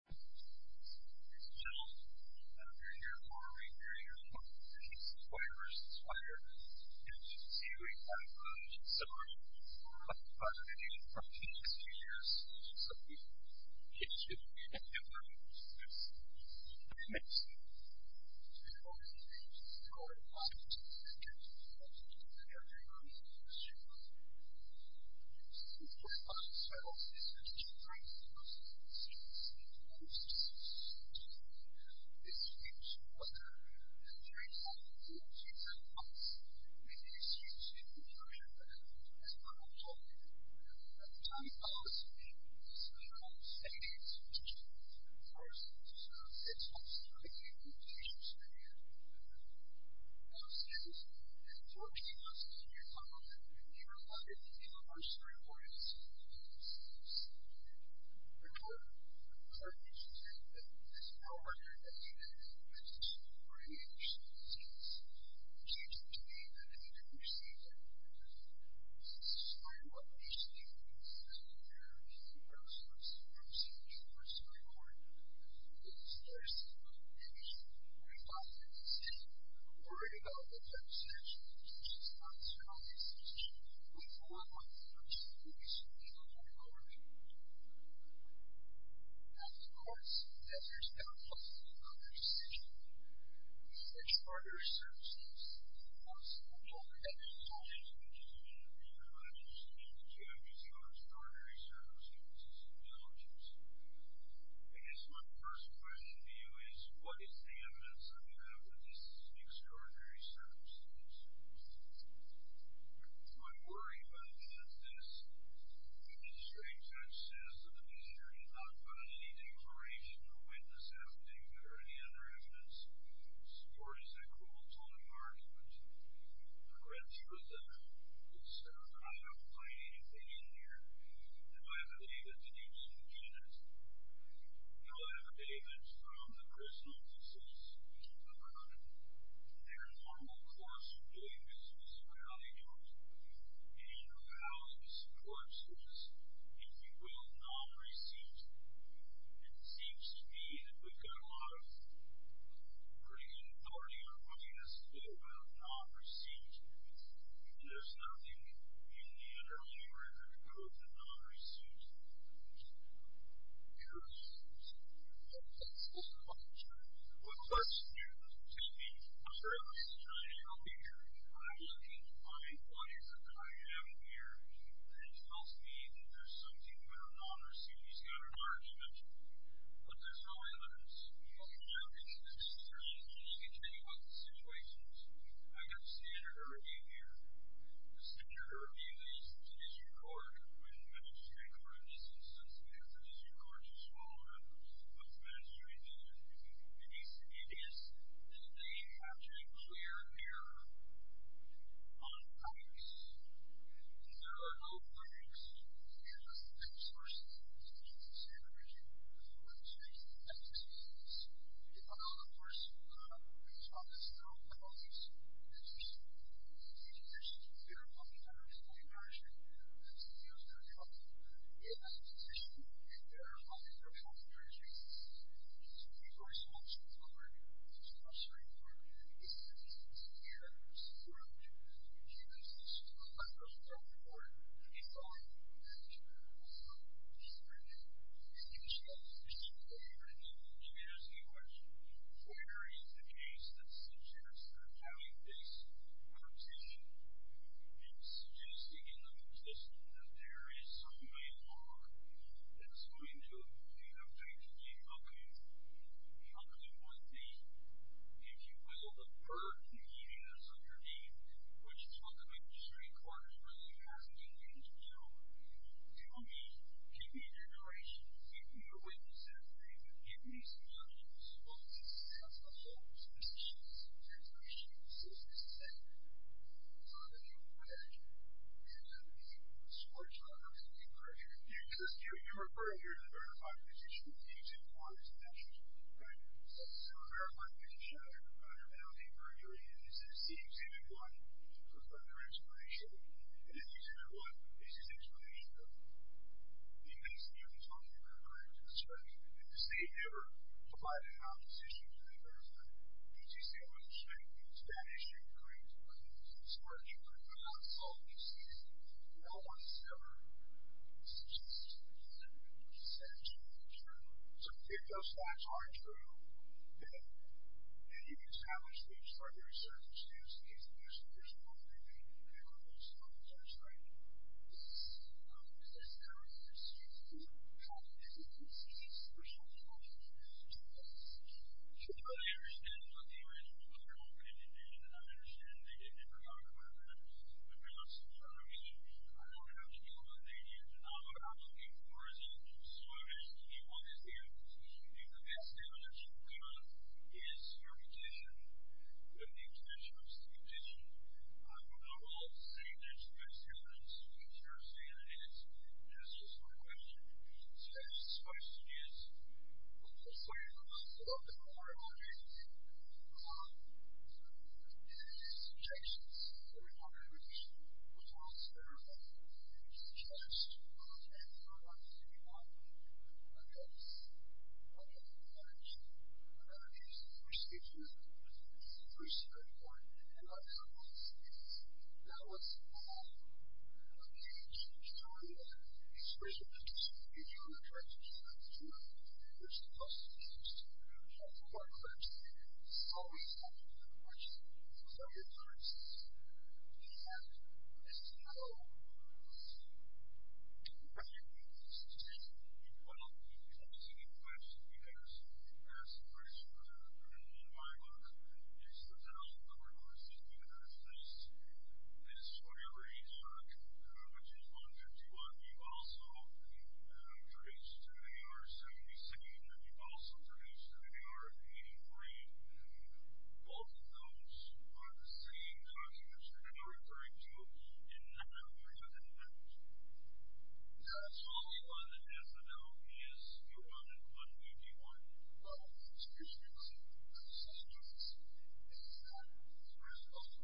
It's a challenge. You're here for a reason. You're here for a reason. It's a player versus player. And you can see we've had a good summer. We're going to have a lot of fun in the next few years. So we need to be able to get through this. And it's going to be a challenge. We're going to have to get through this. We're going to have to get through this.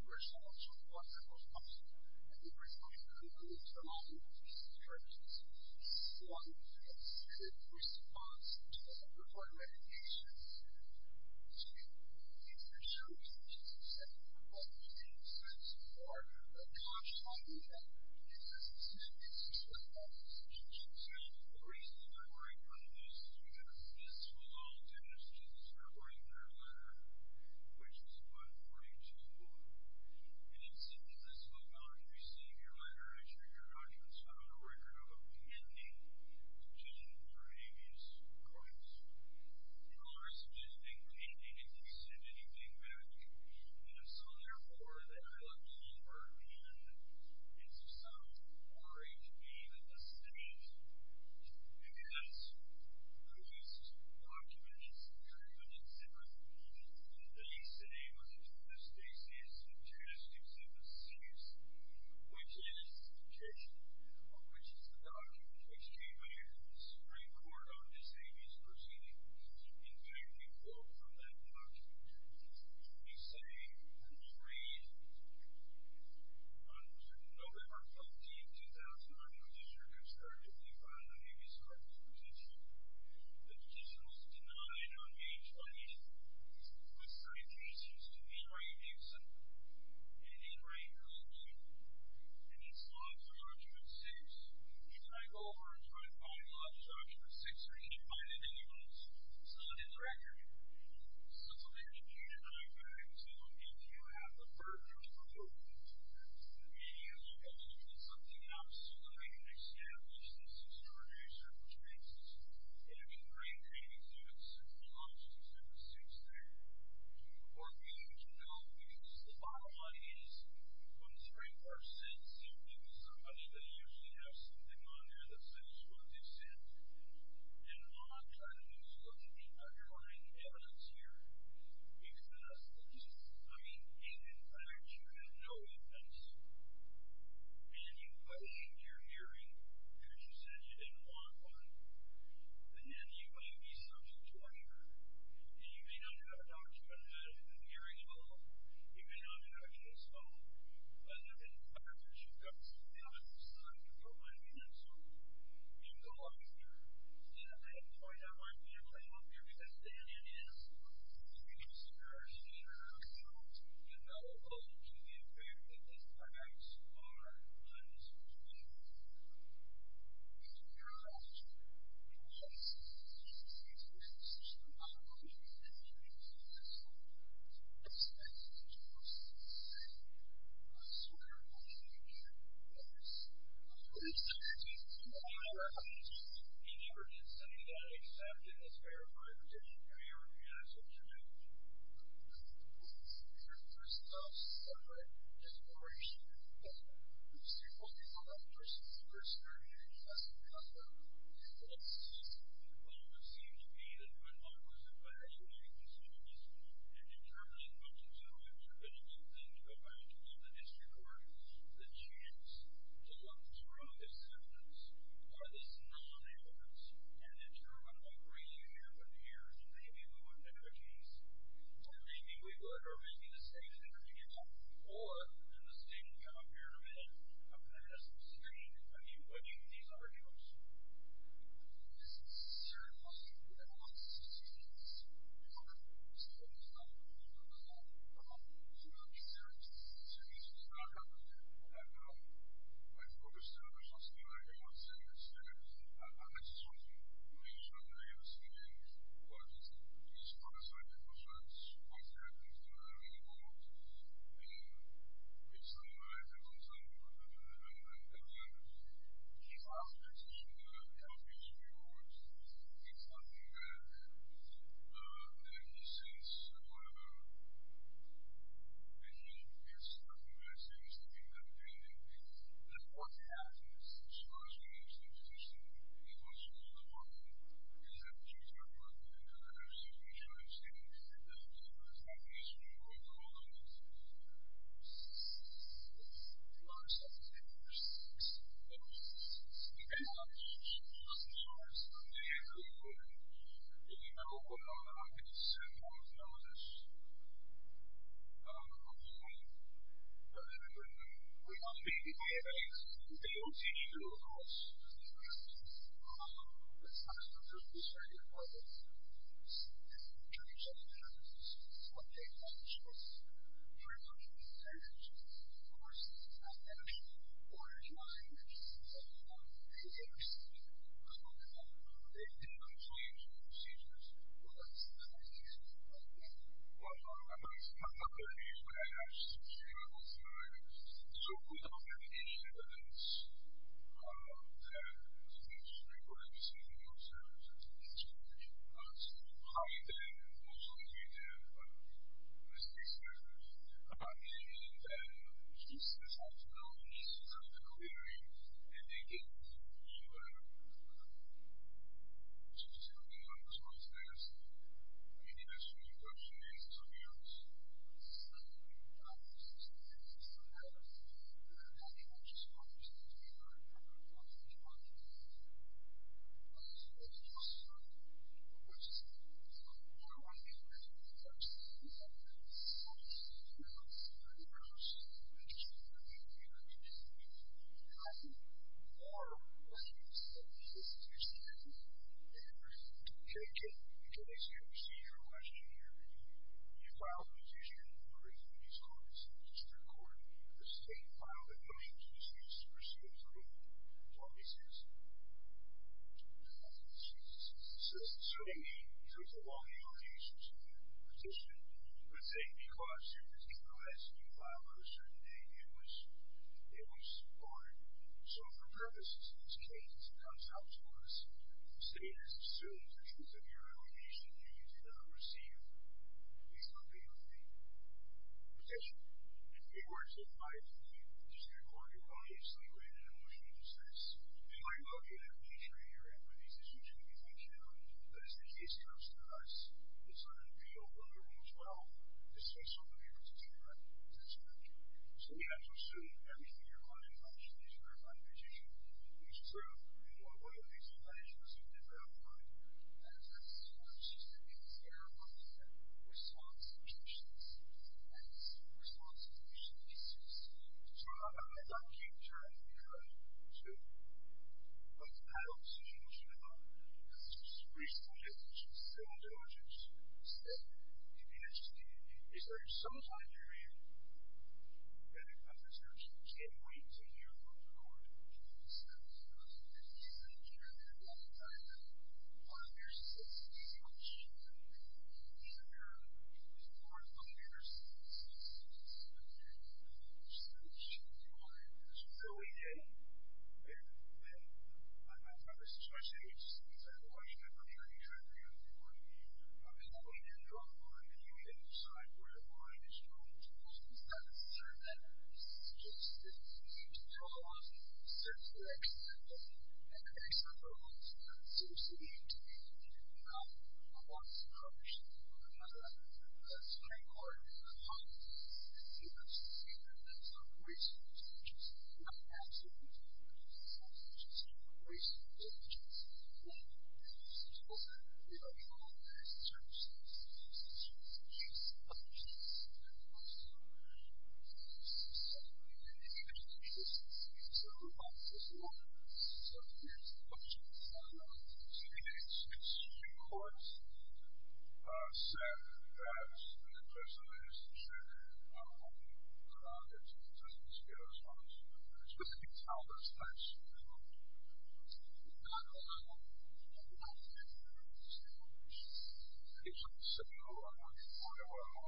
So who shared how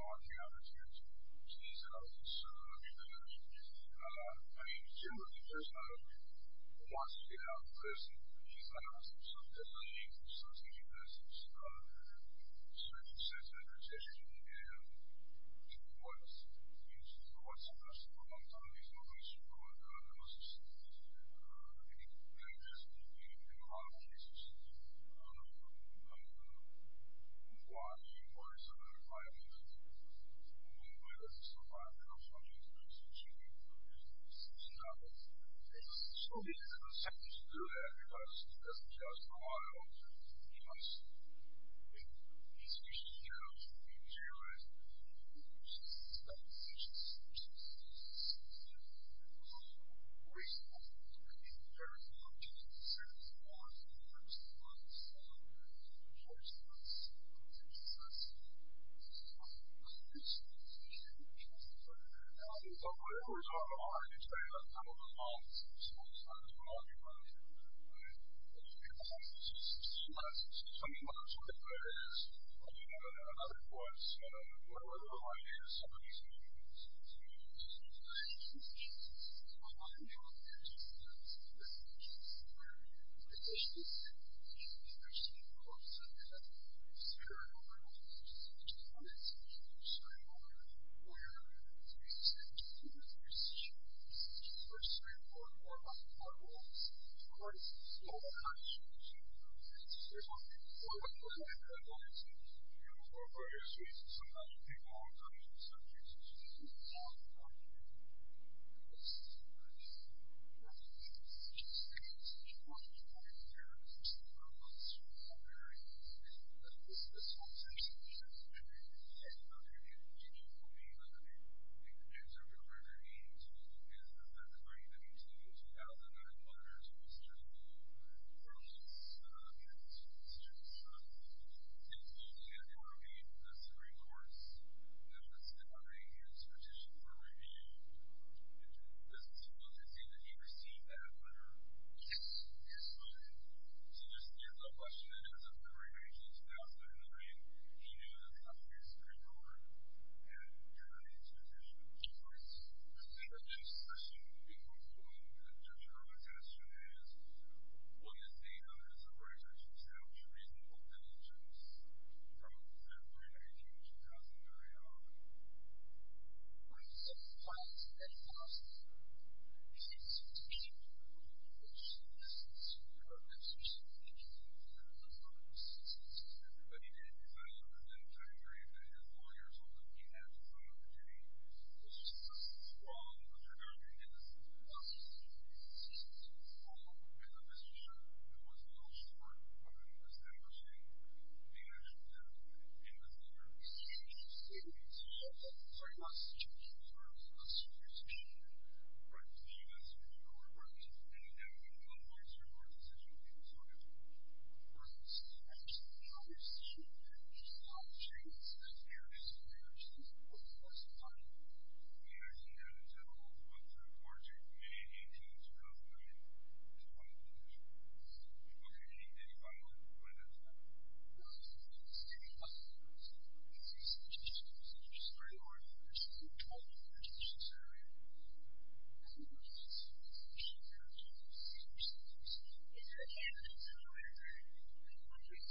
supportive you have been for the unfortunate tissue de®!.. on your face and disease? That's a sweet question. That's a sweet question. The worst part for me at loss of memory is first I... I was worried about interstitials. I just noticed it would be more like a sleeping disease than a heart attack. And of course, there's no positive on interstitials. Extraordinary circumstances cause a lot of damage. I think it's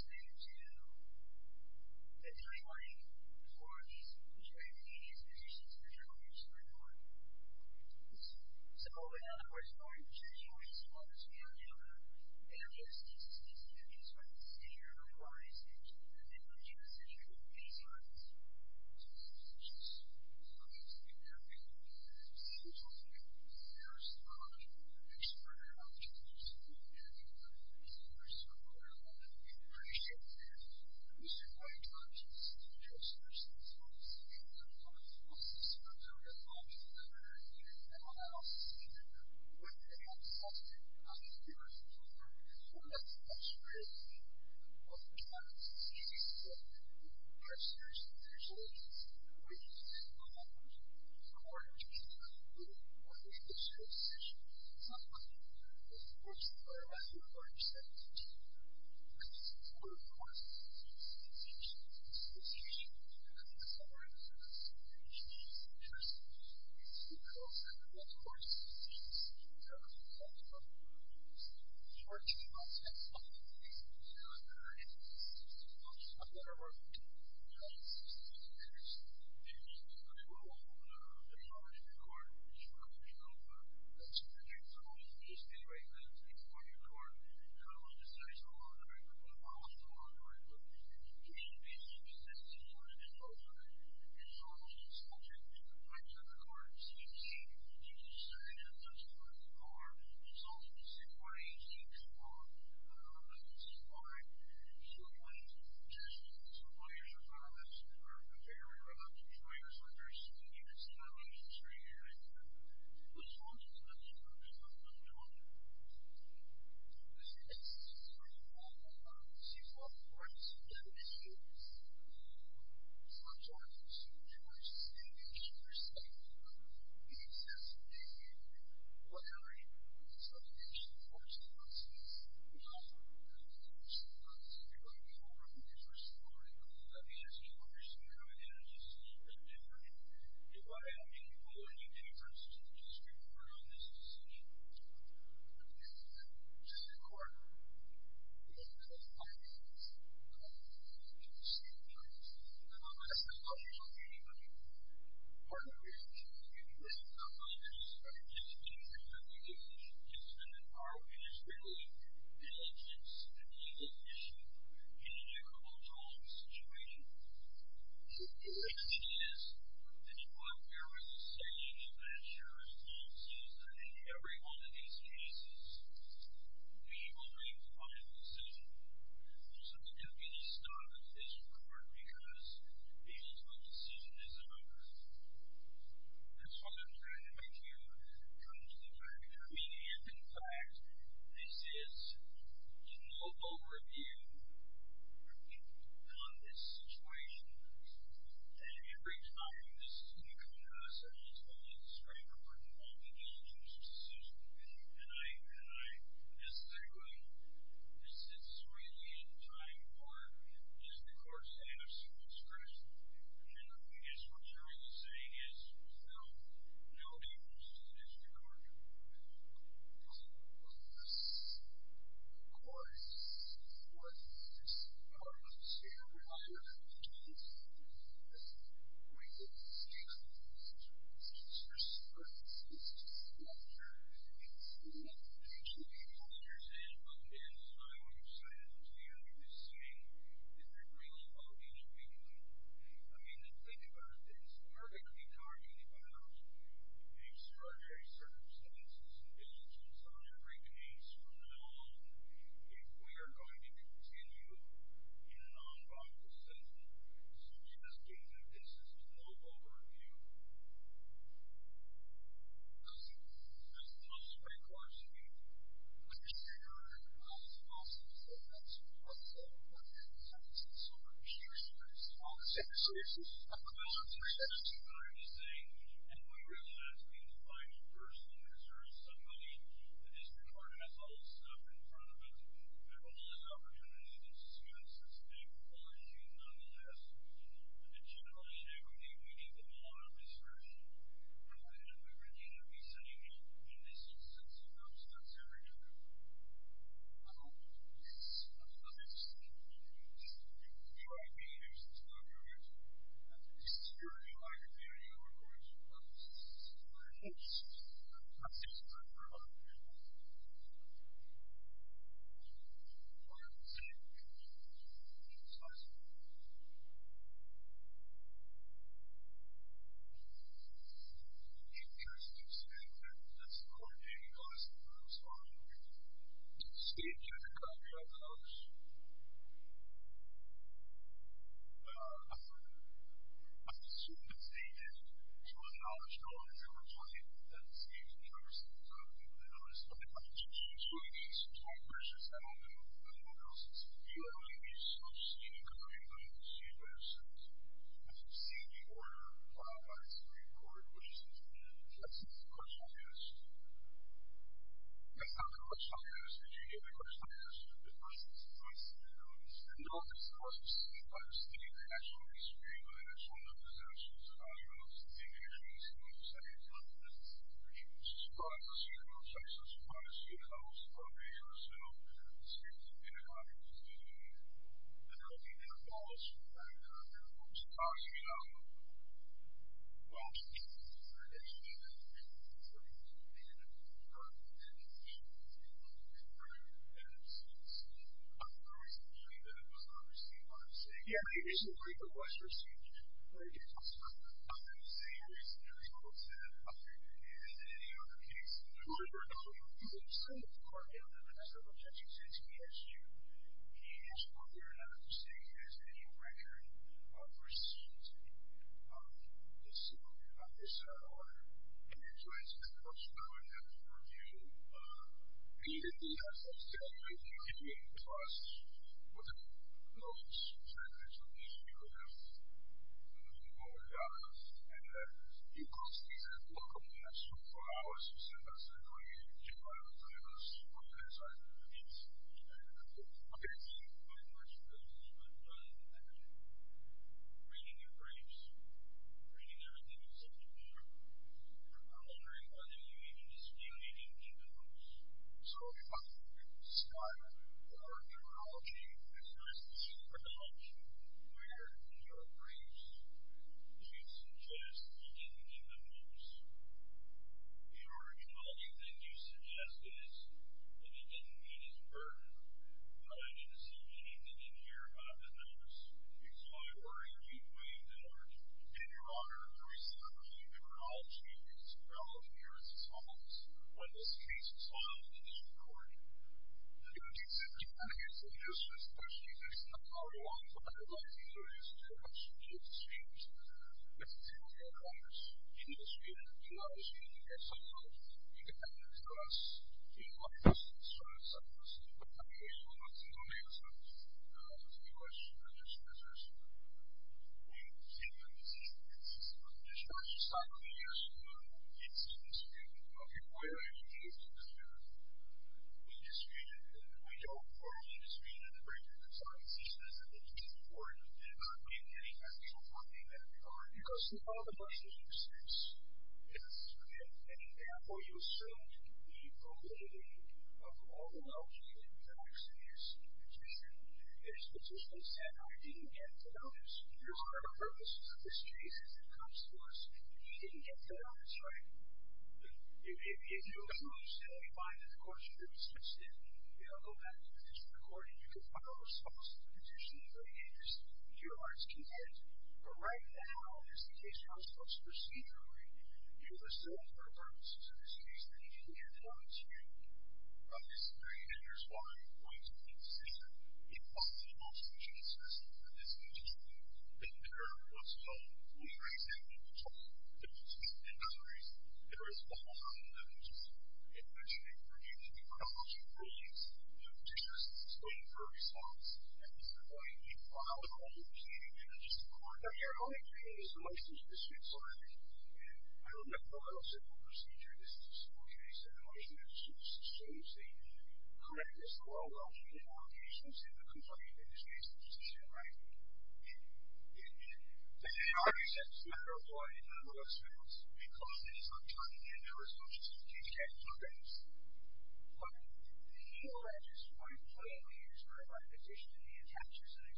interesting that you have used extraordinary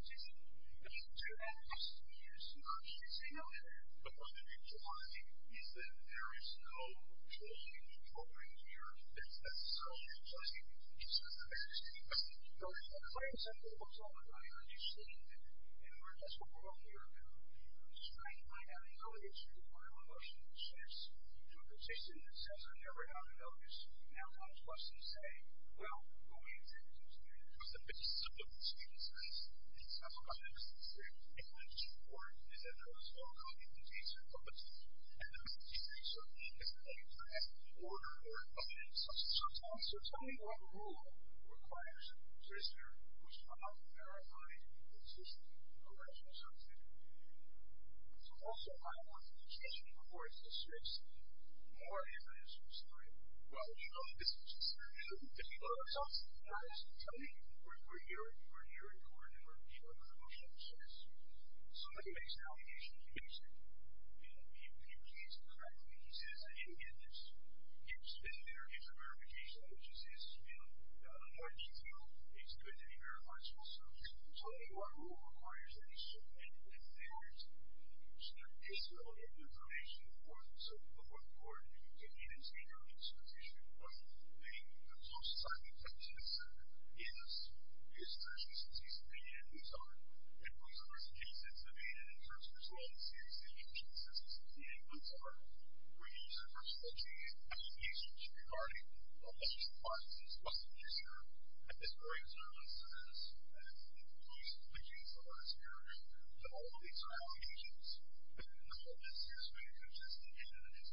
circumstances in your lives. I guess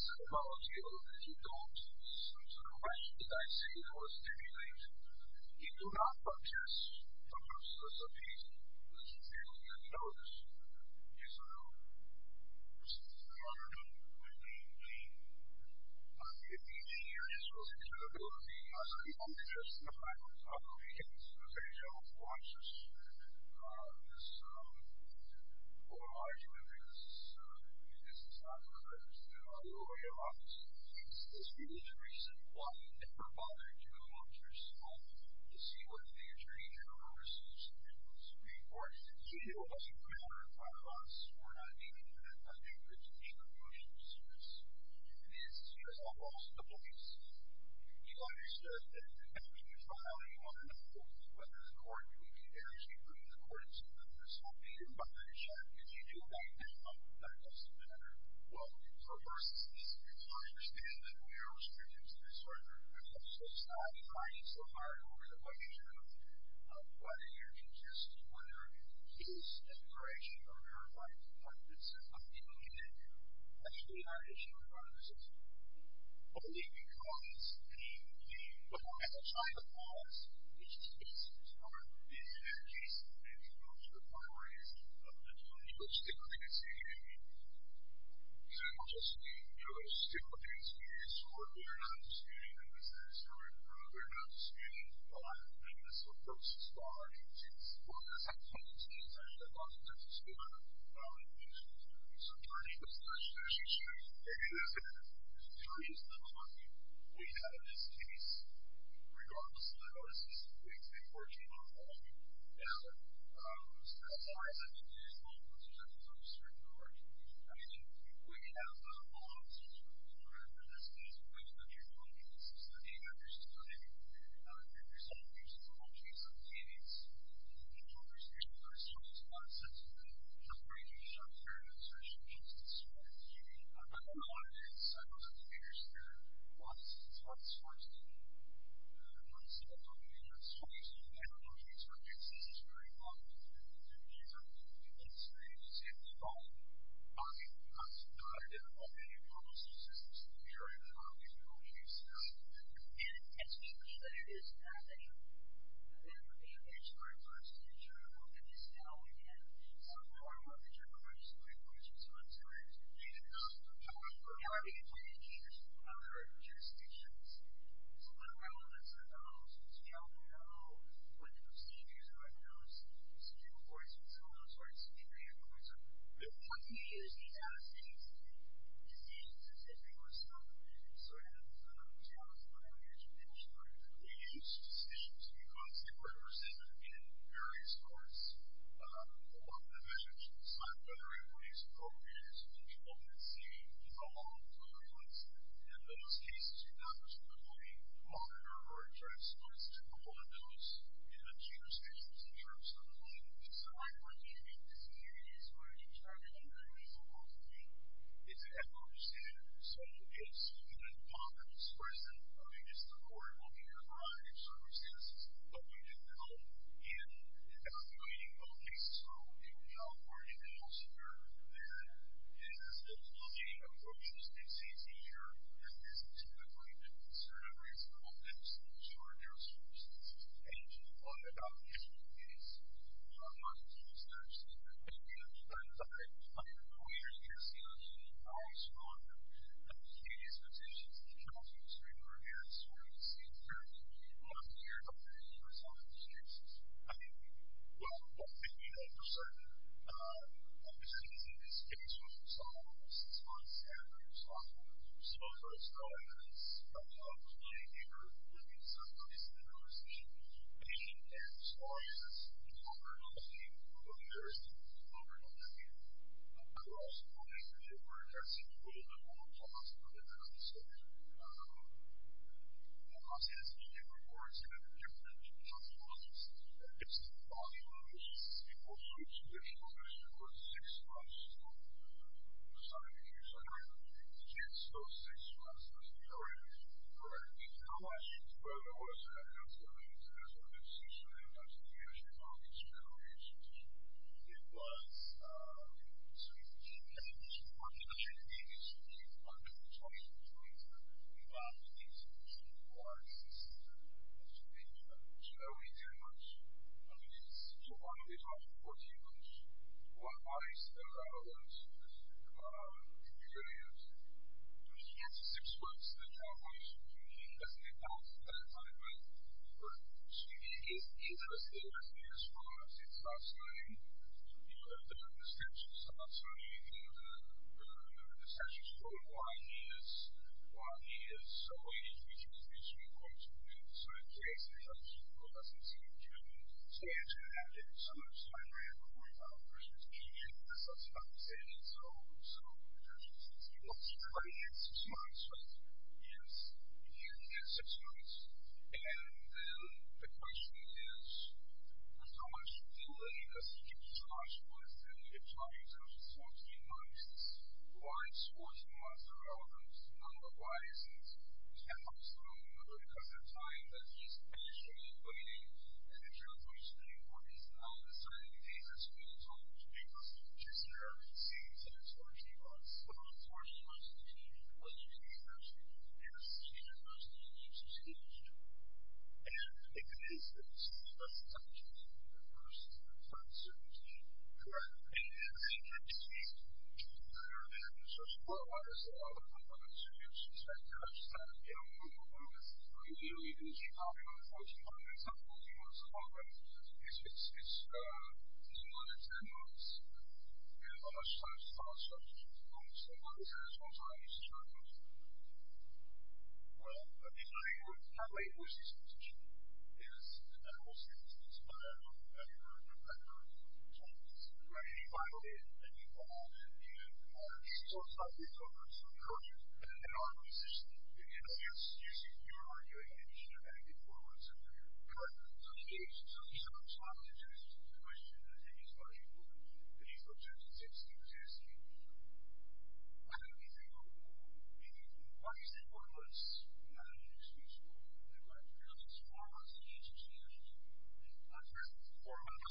my first question to you is what is the evidence that you have of these extraordinary circumstances? I'm worried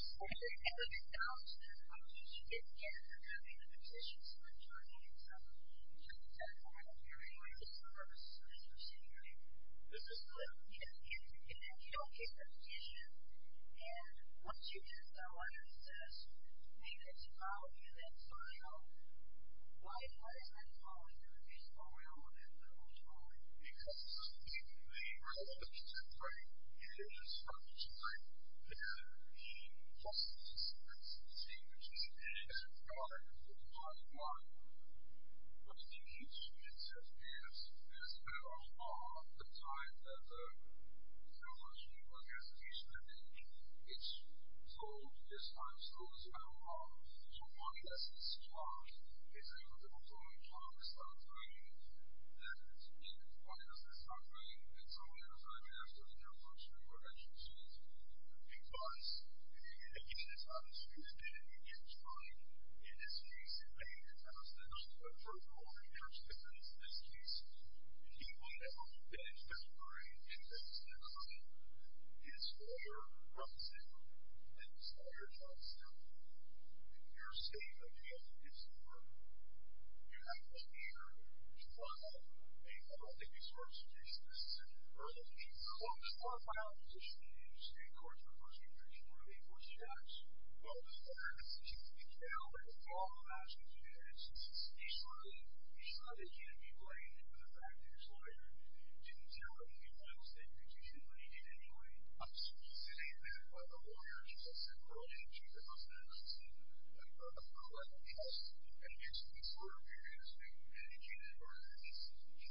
about the evidence. The magistrate judge says that the magistrate has not found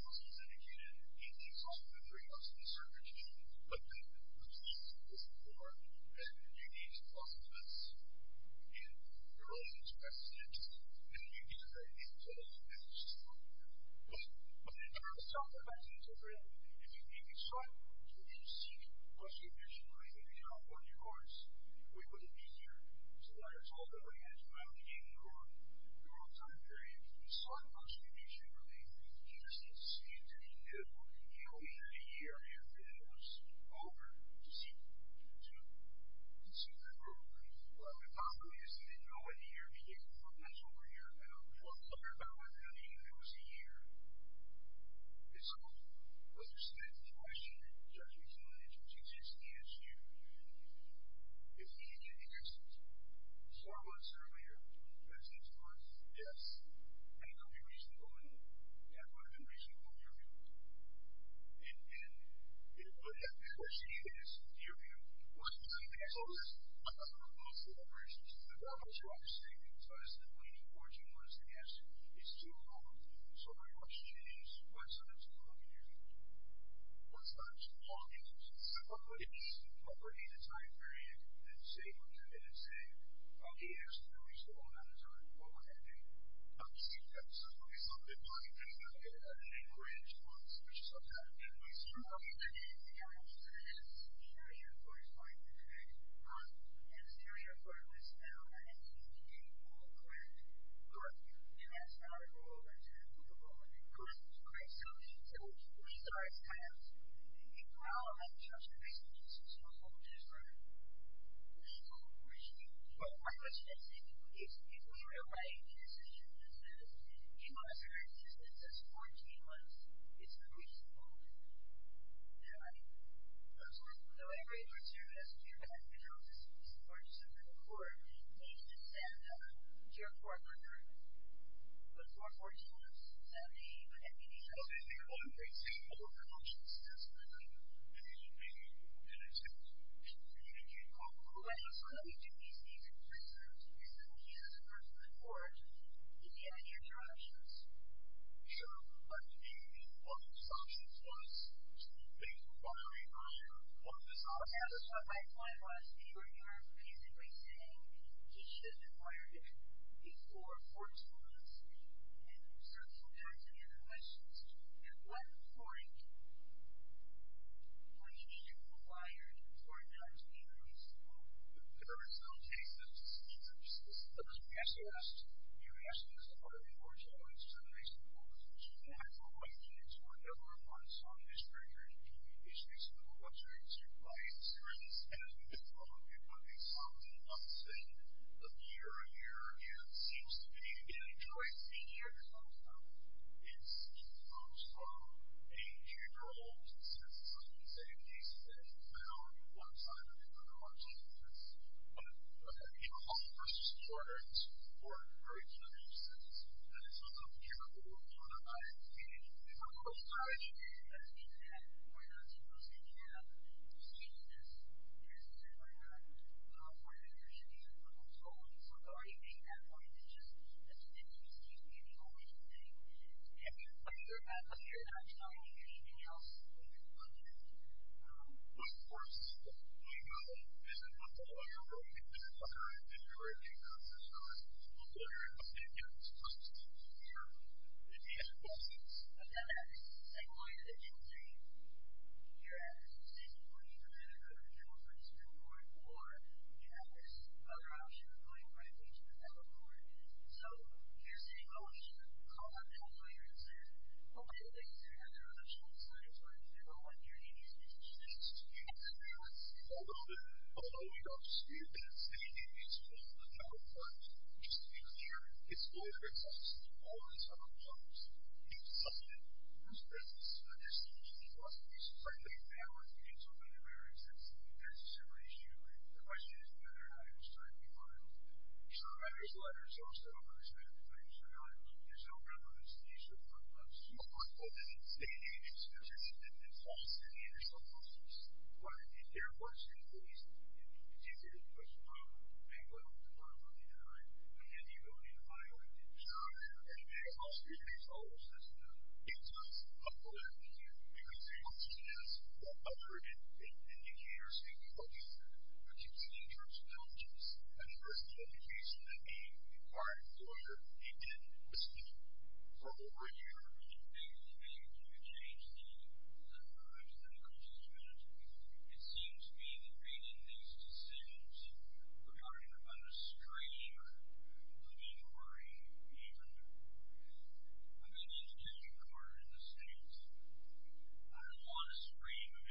any declaration or witness evidence or any other evidence to support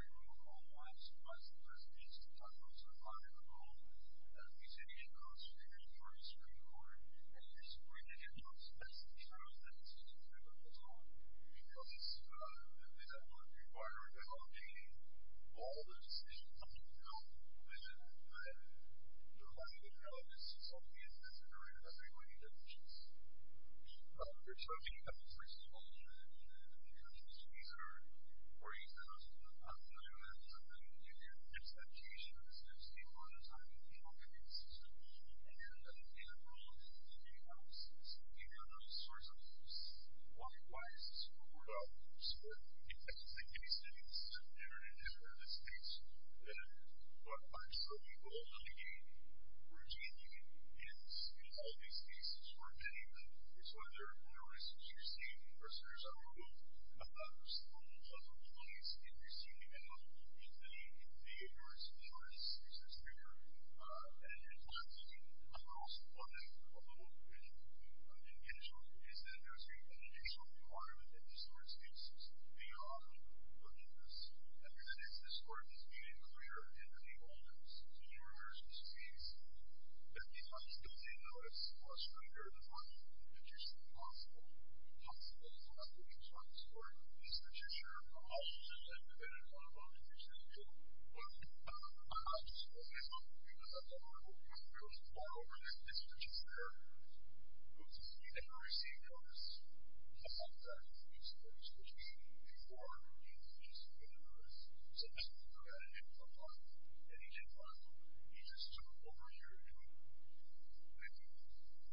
his acquittal of Tony Marks, but... I read through the... I don't find anything in here. And by the way, did you see the evidence? No evidence from the prison officers about their normal course of doing business or how they do it. And your house supports this, if you will, non-receipt. It seems to me that we've got a lot of pretty good authority on putting this together about non-receipt. of non-receipt. I'm just curious. I've got a question. What question? Tell me. I'm trying to help you here. I'm looking to find what is it that I have here. It tells me that there's something that a non-receipt is not a part of. But there's no evidence. I'm just curious. Can you tell me about the situations? I've got a standard argument here. The standard argument is the judicial court, when the magistrate court is in Cincinnati, it's a judicial court as well. When the magistrate is in Cincinnati, it is that they capture and clear their own privates. And there are no privates. Here's the thing. First of all, the standard argument is that the magistrate has no privates. Of course, we've got this federal policy that says the judicial court has no privates. I'm not sure if that's the case, but I'm not sure. It's a position that there are a lot of different possibilities. It's a person's option. It's a luxury for a person. It's a person's care. It's a person's right to a right to a care. It's a person's right to a right to a care. It's a person's right to a right to a care. Mr. Hitchcock. It's a popular opinion. I'll give you an easy question. Where is the case that suggests that having this conversation and suggesting in the position that there is some way along that's going to effectively help you help you with the, if you will, the burden that he has underneath, which, by the way, Mr. Hitchcock really hasn't been able to do. Tell me. Give me an iteration. Give me a witness. Give me some evidence. Well, this is the whole position. There's a position that suggests that there is some way that he can support your operation. You refer here to the verified position that you take on as an action, right? So a verified position, a verifiable opinion, is the Exhibit I for further explanation, and the Exhibit I is his explanation of the case that you're talking about, the one you're concerned with, because the State never provided an opposition to that verified position. Now, you see, when you're saying that Spanish and Korean to one another, it's working, but you're not solving the case. We don't want to discover that this is just 100% true. So if those facts are true, then you can establish that you're starting a research in the United States and there's a position where you can make all those comments, right? Yes. Is there a risk to you that this is a case where you're not going to be able to do this? Well, I understand what the original article indicated, and I understand that they didn't talk about that in the past. I don't know how to deal with that yet. What I'm looking for is a solution. We want to see if the best evidence you've got is your position that the exhibit shows the condition. I'm not going to say that it's the best evidence, but I'm sure saying it is, that's just my question. So the question is, what do you say to those who don't get the hard evidence? Do you have any suggestions? Do you have a position which was very helpful, and you suggested that you were not going to be able to do that? Yes. Okay. Thank you. I'm not going to use the first statement because this is the first statement I'm going to make, and I'm not going to use the second statement. That was, I'm not going to use the second statement. I'm going to use the first one because if you're going to try to do that, you're supposed to be able to do that. That's why I'm saying that it's always helpful to have a question before you try to do something. And, this is how I see it. Thank you. Thank you. Well, I'm going to take a question because you asked the question in my book. You said that a lot of the work that we're going to be doing is for your research, which is what I'm going to do. You've also produced the AR-76, and you've also produced the AR-83. Both of those are the same documents that you're referring to, and how do you do that? Yes. Well, the one that hasn't out is the one in 1BD1. Oh. Excuse me. I'm sorry. Yes. And, there is no commercial. So, what I'm supposed to do is I'm going to be responding to the comments from all of you with these descriptions. So, I'm going to give a specific response to the report of medications that you received. And, I'm going to show you a specific report that you received so far. And, I'll show you that in just a second. So, the reason that we're recording this is because this will all demonstrate that you're recording your letter, which was put for you to report. And, as I said, this will not receive your letter or your documents without a record of a pending decision through any of these courts. It will not receive anything pending and will not send anything back. And, I'm sorry, therefore, that I left you all burdened and it's so worrying to me that this city has produced documents that say that the Stasi is in charge of the Stasi case, which is the document which came in your Supreme Court on December 1st, in fact, we quote from that